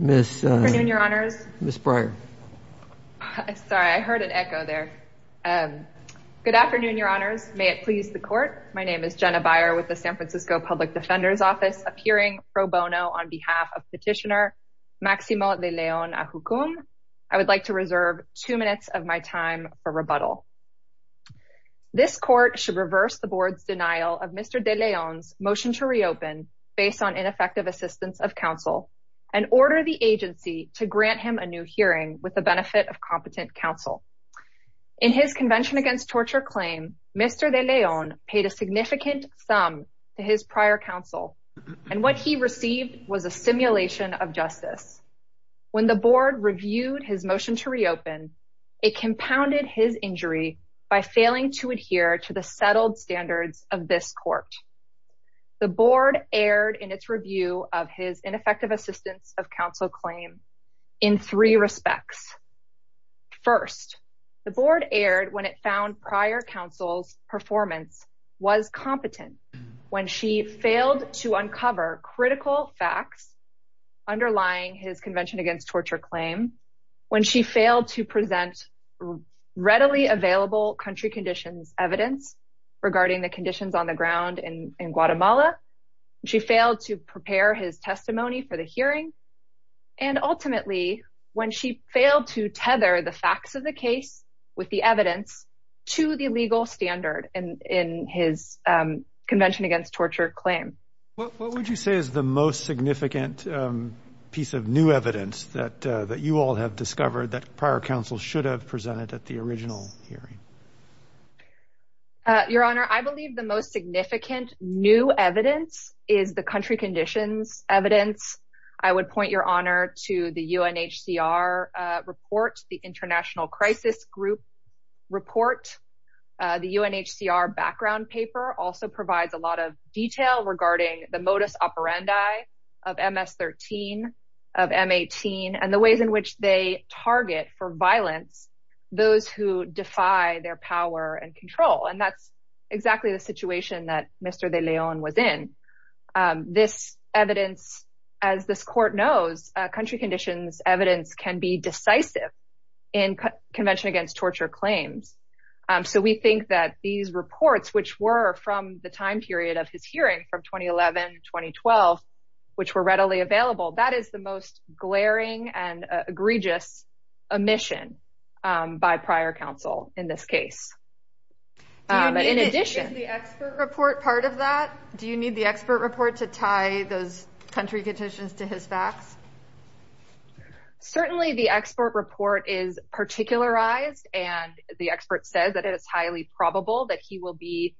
Good afternoon, your honors. May it please the court. My name is Jenna Beyer with the San Francisco Public Defender's Office, appearing pro bono on behalf of Petitioner Maximo De Leon-Ajucum. I would like to reserve two minutes of my time for rebuttal. This court should reverse the board's denial of Mr. De Leon's motion to reopen based on ineffective assistance of counsel and order the agency to grant him a new hearing with the benefit of competent counsel. In his Convention Against Torture claim, Mr. De Leon paid a significant sum to his prior counsel, and what he received was a simulation of justice. When the board reviewed his motion to reopen, it compounded his injury by failing to adhere to the settled standards of this court. The board erred in its review of his ineffective assistance of counsel claim in three respects. First, the board erred when it found prior counsel's performance was competent, when she failed to uncover critical facts underlying his Convention Against Torture claim, when she failed to present readily available country conditions evidence regarding the conditions on the ground in Guatemala, she failed to prepare his testimony for the hearing, and ultimately, when she failed to tether the facts of the case with the evidence to the legal standard in his Convention Against Torture claim. What would you say is the most significant piece of new evidence that you all have discovered that prior counsel should have presented at the original hearing? Your Honor, I believe the most significant new evidence is the country conditions evidence. I would point your honor to the UNHCR report, the International Crisis Group report. The UNHCR background paper also provides a lot of detail regarding the modus operandi of violence, those who defy their power and control. And that's exactly the situation that Mr. de Leon was in. This evidence, as this court knows, country conditions evidence can be decisive in Convention Against Torture claims. So we think that these reports, which were from the time period of his hearing, from 2011, 2012, which were readily available, that is the most glaring and egregious omission by prior counsel in this case. Do you need the expert report part of that? Do you need the expert report to tie those country conditions to his facts? Certainly, the expert report is particularized, and the expert says that it is highly probable that he will be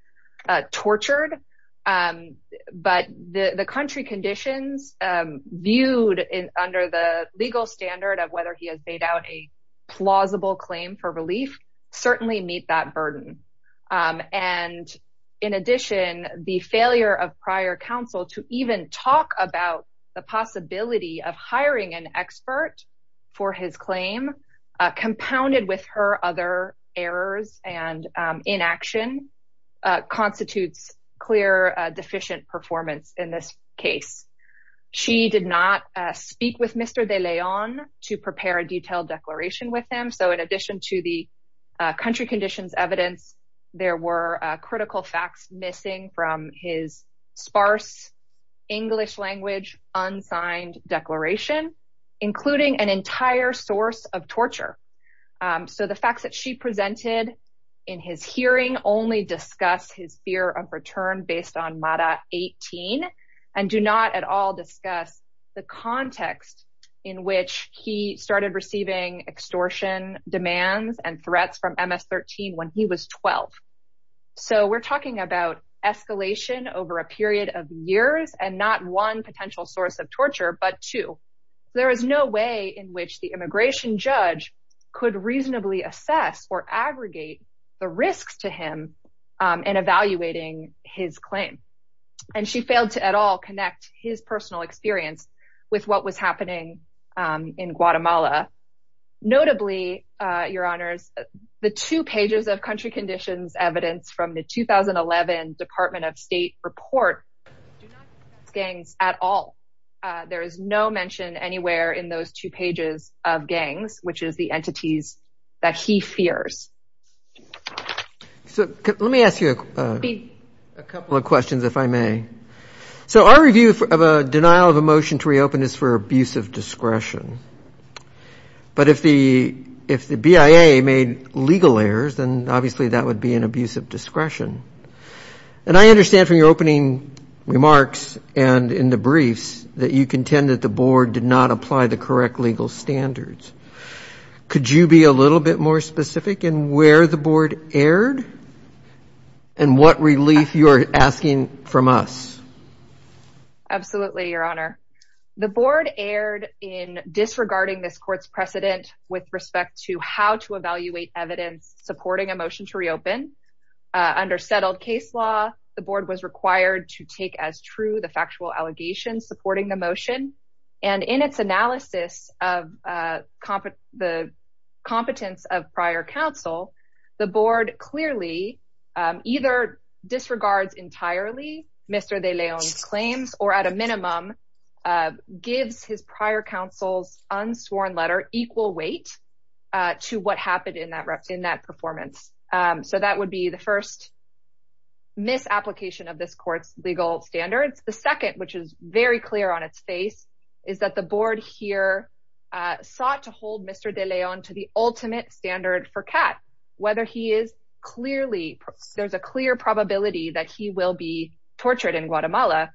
tortured. But the country conditions viewed under the legal standard of whether he has laid out a plausible claim for relief certainly meet that burden. And in addition, the failure of prior counsel to even talk about the possibility of hiring an expert for his claim, compounded with her other errors and inaction, constitutes clear deficient performance in this case. She did not speak with Mr. de Leon to prepare a detailed declaration with him. So in addition to the country conditions evidence, there were critical facts missing from his sparse English-language unsigned declaration, including an entire source of torture. So the facts that she presented in his hearing only discuss his fear of return based on Mada 18, and do not at all discuss the context in which he started receiving extortion demands and threats from Ms. 13 when he was 12. So we're talking about escalation over a period of years, and not one potential source of torture, but two. There is no way in which the immigration judge could reasonably assess or aggregate the risks to him in evaluating his claim. And she failed to at all connect his personal experience with what was happening in Guatemala. Notably, your honors, the two pages of country conditions evidence from the 2011 Department of State report do not discuss gangs at all. There is no mention anywhere in those two pages of gangs, which is the entities that he fears. So let me ask you a couple of questions, if I may. So our review of a denial of a motion to reopen is for abuse of discretion. But if the BIA made legal errors, then obviously that would be an abuse of discretion. And I understand from your opening remarks and in the briefs that you contend that the board did not apply the correct legal standards. Could you be a little bit more specific in where the from us? Absolutely, your honor. The board erred in disregarding this court's precedent with respect to how to evaluate evidence supporting a motion to reopen. Under settled case law, the board was required to take as true the factual allegations supporting the motion. And in its analysis of the competence of prior counsel, the board clearly either disregards entirely Mr. De Leon's claims or at a minimum gives his prior counsel's unsworn letter equal weight to what happened in that performance. So that would be the first misapplication of this court's legal standards. The second, which is very clear on its face, is that the board here sought to hold Mr. De Leon to the ultimate standard for CAT, whether he is clearly, there's a clear probability that he will be tortured in Guatemala.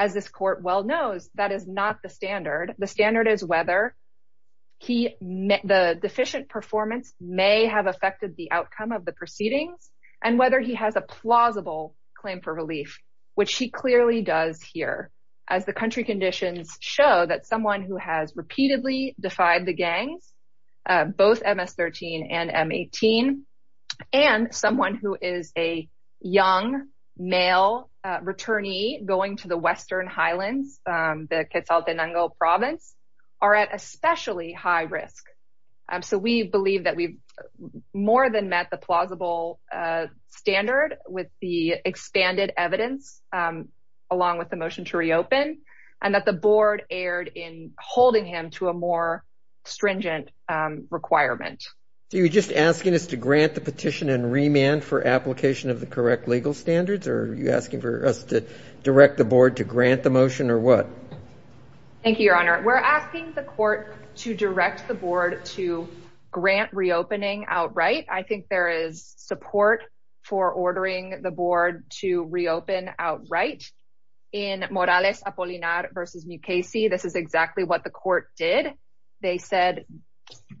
As this court well knows, that is not the standard. The standard is whether he met the deficient performance may have affected the outcome of the proceedings, and whether he has a plausible claim for relief, which he clearly does here, as the country and someone who is a young male returnee going to the Western Highlands, the Quetzaltenango province are at especially high risk. So we believe that we've more than met the plausible standard with the expanded evidence, along with the motion to reopen, and that the board erred in holding him to a more stringent requirement. So you're just asking us to grant the petition and remand for application of the correct legal standards? Are you asking for us to direct the board to grant the motion or what? Thank you, Your Honor. We're asking the court to direct the board to grant reopening outright. I think there is support for ordering the board to reopen outright. In Morales Apolinar versus Mukasey, this is exactly what the court did. They said,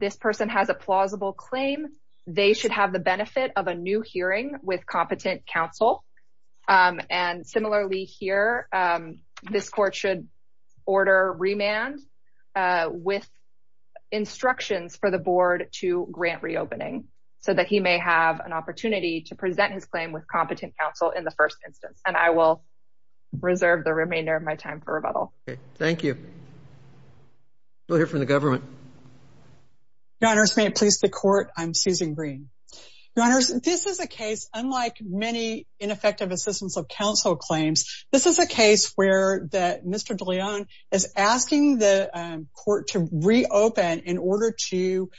this person has a plausible claim, they should have the benefit of a new hearing with competent counsel. And similarly here, this court should order remand with instructions for the board to grant reopening, so that he may have an opportunity to present his claim with the first instance. And I will reserve the remainder of my time for rebuttal. Thank you. We'll hear from the government. Your Honors, may it please the court, I'm Susan Green. Your Honors, this is a case, unlike many ineffective assistance of counsel claims, this is a case where Mr. DeLeon is asking the court to reopen in order to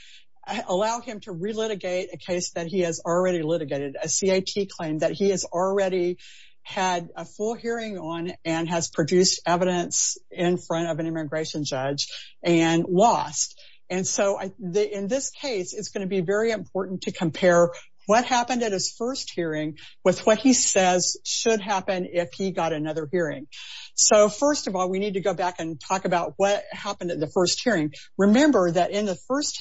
allow him to have a full hearing on and has produced evidence in front of an immigration judge and lost. And so in this case, it's going to be very important to compare what happened at his first hearing with what he says should happen if he got another hearing. So first of all, we need to go back and talk about what happened at the first hearing. Remember that in the first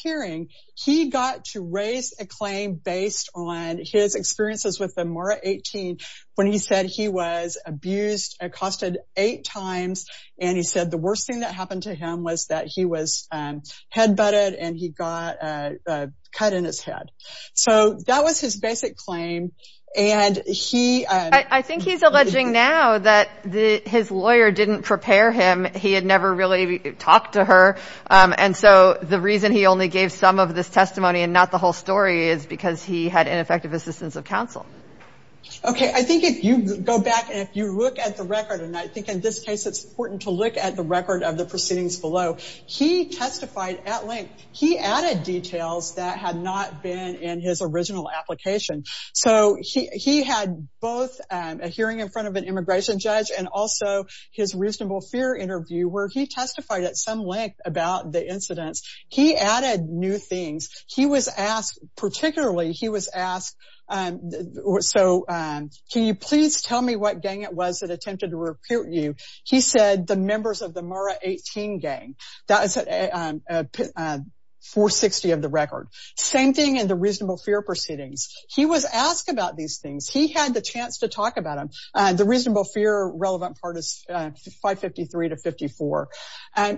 he got to raise a claim based on his experiences with the Mara 18, when he said he was abused, accosted eight times. And he said the worst thing that happened to him was that he was head butted and he got a cut in his head. So that was his basic claim. And he, I think he's alleging now that the his lawyer didn't prepare him. He had never really talked to her. And so the reason he only gave some of this testimony and not the whole story is because he had ineffective assistance of counsel. Okay. I think if you go back and if you look at the record, and I think in this case, it's important to look at the record of the proceedings below. He testified at length. He added details that had not been in his original application. So he had both a hearing in front of an immigration judge and also his reasonable fear interview where he testified at some length about the incidents. He added new things. He was asked, particularly he was asked, so can you please tell me what gang it was that attempted to recruit you? He said the members of the Mara 18 gang. That is a 460 of the record. Same thing in the reasonable fear proceedings. He was asked about these things. He had the chance to talk about them. The reasonable fear relevant part is 553 to 54.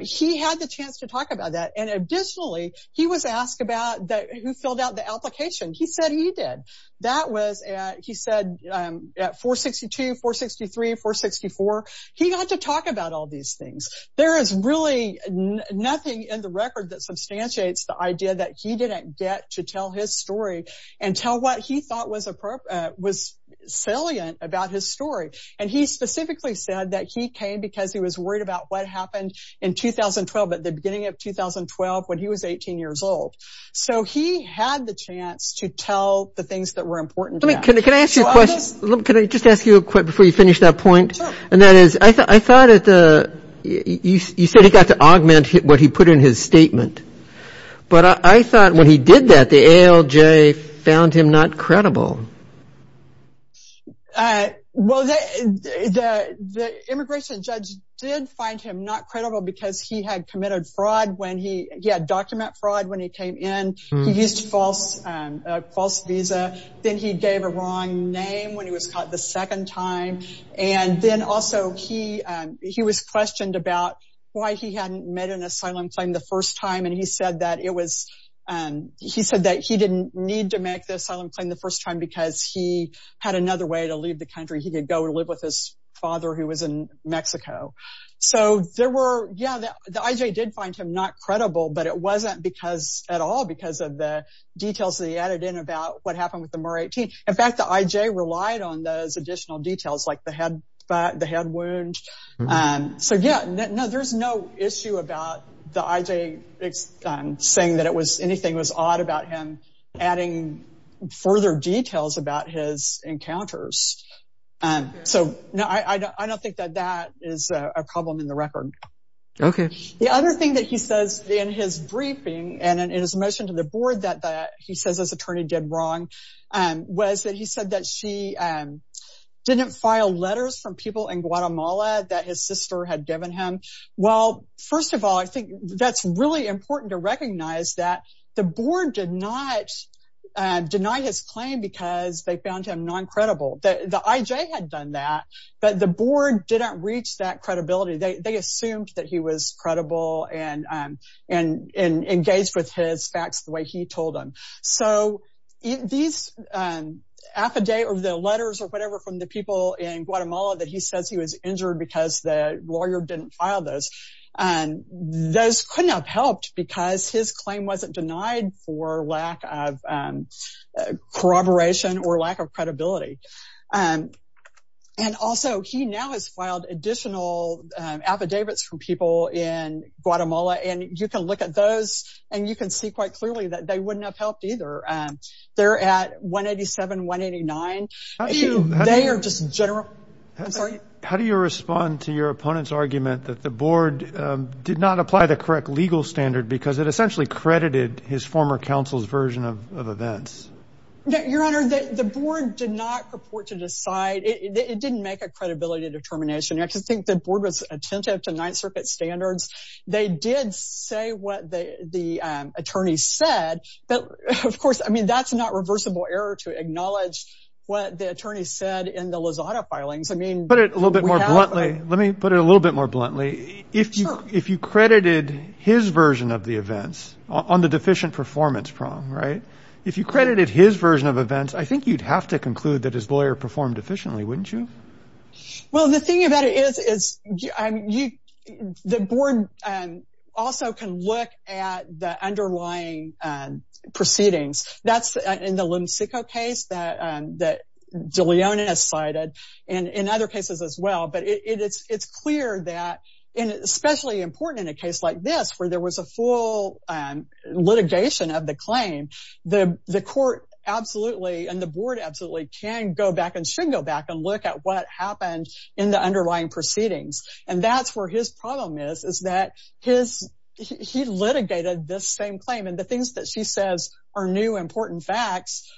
He had the chance to talk about that. And additionally, he was asked about that who filled out the application. He said he did. That was, he said, 462, 463, 464. He got to talk about all these things. There is really nothing in the record that substantiates the idea that he didn't get to tell his story and tell what he thought was salient about his story. And he specifically said that he came because he was worried about what happened in 2012 at the beginning of 2012 when he was 18 years old. So he had the chance to tell the things that were important to him. Can I ask you a question? Can I just ask you a quick before you finish that point? And that is, I thought at the, you said he got to augment what he put in his statement. But I thought when he did that, the ALJ found him not credible. Well, the immigration judge did find him not credible because he had committed fraud when he, he had document fraud when he came in. He used false, false visa. Then he gave a wrong name when he was caught the second time. And then also he, he was questioned about why he hadn't made an asylum claim the first time. And he said that it was, he said that he didn't need to make the asylum claim the first time because he had another way to leave the country. He could go and live with his father who was in Mexico. So there were, yeah, the IJ did find him not credible, but it wasn't because at all because of the details that he added in about what happened with the more 18. In fact, the IJ relied on those additional details like the head, but the head wound. So yeah, no, there's no issue about the IJ saying that it was anything was odd about him adding further details about his encounters. So no, I don't think that that is a problem in the record. Okay. The other thing that he says in his briefing and in his motion to the board that he says his attorney did wrong was that he said that she didn't file letters from people in Guatemala that his sister had given him. Well, first of all, I think that's really important to recognize that the board did not deny his claim because they found him non-credible that the IJ had done that, but the board didn't reach that credibility. They, they assumed that he was credible and, and, and engaged with his facts the way he told them. So these affidavit or the people in Guatemala that he says he was injured because the lawyer didn't file those and those couldn't have helped because his claim wasn't denied for lack of corroboration or lack of credibility. And also he now has filed additional affidavits from people in Guatemala and you can look at those and you can see quite clearly that they wouldn't have helped either. They're at 187, 189. They are just general. I'm sorry. How do you respond to your opponent's argument that the board did not apply the correct legal standard because it essentially credited his former counsel's version of events? Your Honor, the board did not purport to decide, it didn't make a credibility determination. I just think the board was attentive to Ninth Circuit standards. They did say what the, the attorney said, but of course, I mean, that's not reversible error to acknowledge what the attorney said in the Lozada filings. I mean. Put it a little bit more bluntly. Let me put it a little bit more bluntly. If you, if you credited his version of the events on the deficient performance prong, right? If you credited his version of events, I think you'd have to conclude that his lawyer performed efficiently, wouldn't you? Well, the thing about it is, is you, the board also can look at the underlying proceedings. That's in the Lemsicko case that, that DeLeon has cited and in other cases as well. But it's, it's clear that, and especially important in a case like this, where there was a full litigation of the claim, the, the court absolutely, and the board absolutely can go back and should go back and look at what happened in the underlying proceedings. And that's where his problem is, is that his, he litigated this same claim. And the things that she says are new, important facts,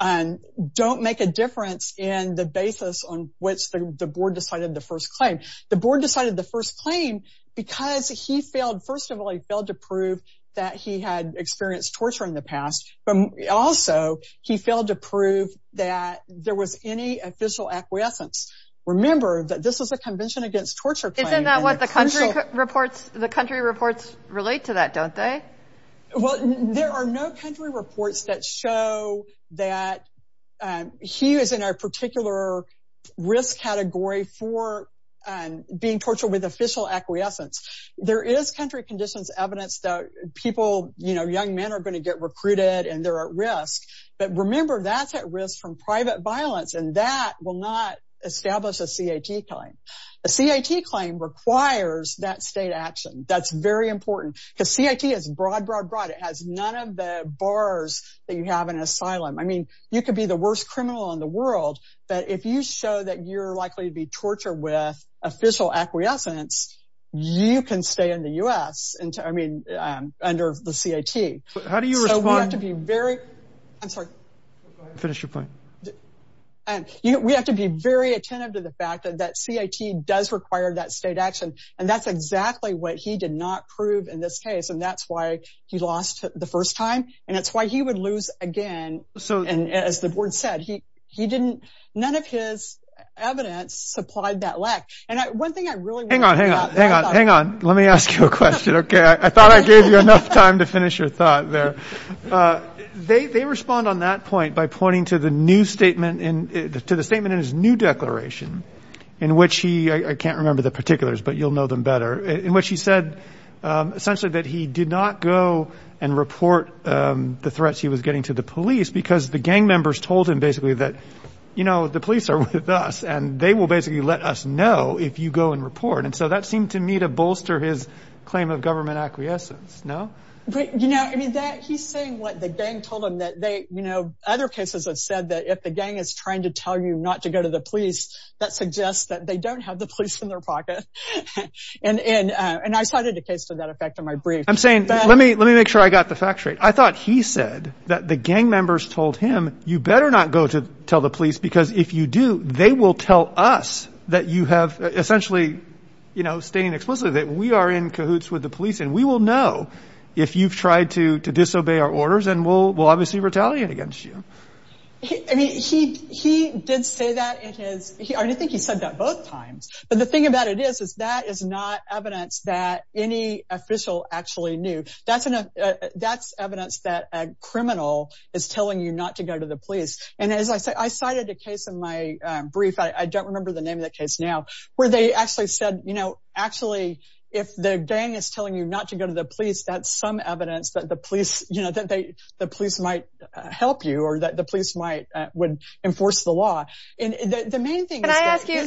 don't make a difference in the basis on which the board decided the first claim. The board decided the first claim because he failed, first of all, he failed to prove that he had experienced torture in the past. But also, he failed to prove that there was any official acquiescence. Remember that this was a convention against torture. Isn't that what the country reports, the country reports relate to that, don't they? Well, there are no country reports that show that he is in a particular risk category for being tortured with official acquiescence. There is country conditions evidence that people, you know, young men are going to get recruited, and they're at risk. But remember, that's at risk from private violence, and that will not establish a CIT claim. A CIT claim requires that state action. That's very important. Because CIT is broad, broad, broad, it has none of the bars that you have in asylum. I mean, you could be the worst criminal in the world. But if you show that you're likely to be tortured with official acquiescence, you can stay in the U.S. into, I mean, under the CIT. How do you respond to be very, I'm sorry, finish your point. And we have to be very attentive to the fact that that CIT does require that state action. And that's exactly what he did not prove in this case. And that's why he lost the first time. And that's why he would lose again. So and as the board said, he he didn't, none of his evidence supplied that lack. And one thing I really want to hang on, hang on, hang on, let me ask you a question. Okay, I thought I gave you enough time to finish your thought there. They respond on that point by pointing to the new statement in to the statement in his new declaration, in which he I can't remember the particulars, but you'll know them better in which he said, essentially, that he did not go and report the threats he was getting to the police because the gang members told him basically that, you know, the police are with us, and they will basically let us know if you go and report. And so that seemed to me to bolster his claim of government acquiescence. No, you know, I mean, that he's saying what the gang told him that they, you know, other cases have said that if the gang is trying to tell you not to go to the police, that suggests that they don't have the police in their pocket. And I cited a case to that effect in my brief. I'm saying, let me let me make sure I got the fact straight. I thought he said that the gang members told him, you better not go to tell the police, because if you do, they will tell us that you have essentially, you know, stating explicitly that we are in cahoots with the police. And we will know if you've tried to disobey our orders, and we'll obviously retaliate against you. I mean, he he did say that it is he I think he said that both times. But the thing about it is, is that is not evidence that any official actually knew. That's enough. That's that criminal is telling you not to go to the police. And as I said, I cited a case in my brief, I don't remember the name of the case now, where they actually said, you know, actually, if the gang is telling you not to go to the police, that's some evidence that the police, you know, that they, the police might help you or that the police might would enforce the law. And the main thing, can I ask you,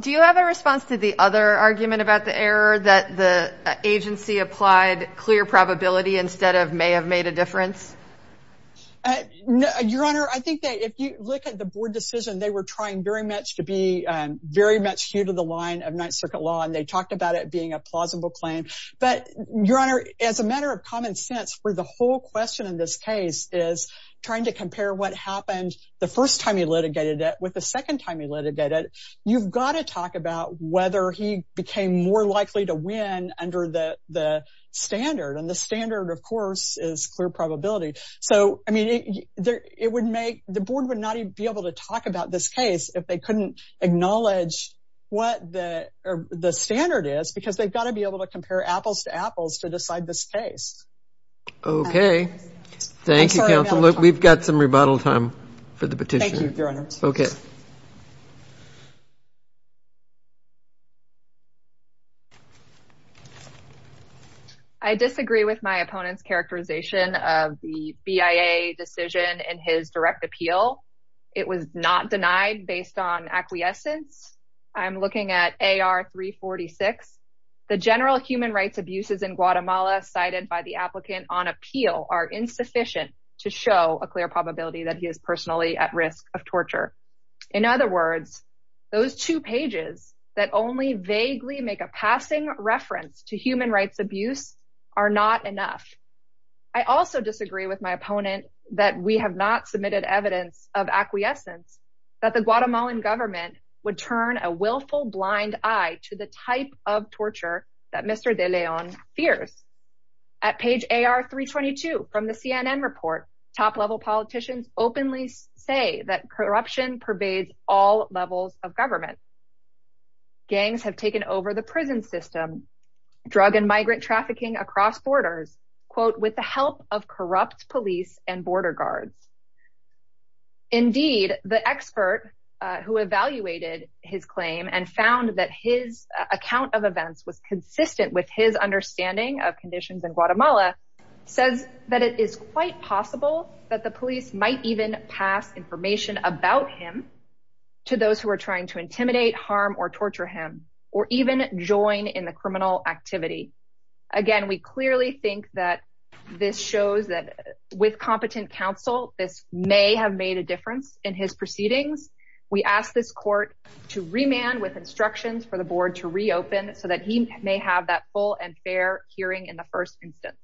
do you have a response to the other argument about the error that the agency applied clear probability instead of may have made a difference? Your Honor, I think that if you look at the board decision, they were trying very much to be very much here to the line of Ninth Circuit law. And they talked about it being a plausible claim. But Your Honor, as a matter of common sense, where the whole question in this case is trying to compare what happened the first time he litigated it with the second time he litigated, you've got to talk about whether he became more likely to win under the standard. And the standard, of course, is clear probability. So I mean, it would make the board would not even be able to talk about this case if they couldn't acknowledge what the standard is, because they've got to be able to compare apples to apples to decide this case. Okay. Thank you. We've got some rebuttal time for the petition. Okay. I disagree with my opponent's characterization of the BIA decision and his direct appeal. It was not denied based on acquiescence. I'm looking at AR 346. The general human rights abuses in Guatemala cited by the applicant on appeal are insufficient to show a he is personally at risk of torture. In other words, those two pages that only vaguely make a passing reference to human rights abuse are not enough. I also disagree with my opponent that we have not submitted evidence of acquiescence that the Guatemalan government would turn a willful blind eye to the type of torture that Mr. De Leon fears. At page AR 322 from the CNN report, top level politicians openly say that corruption pervades all levels of government. Gangs have taken over the prison system, drug and migrant trafficking across borders, quote, with the help of corrupt police and border guards. Indeed, the expert who evaluated his claim and found that his account of events was consistent with his understanding of conditions in that the police might even pass information about him to those who are trying to intimidate, harm or torture him or even join in the criminal activity. Again, we clearly think that this shows that with competent counsel, this may have made a difference in his proceedings. We ask this court to remand with instructions for the board to reopen so that he may have that full and fair hearing in the first instance.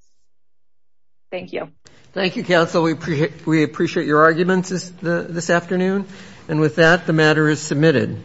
Thank you. Thank you, counsel. We appreciate your arguments this afternoon. And with that, the matter is submitted.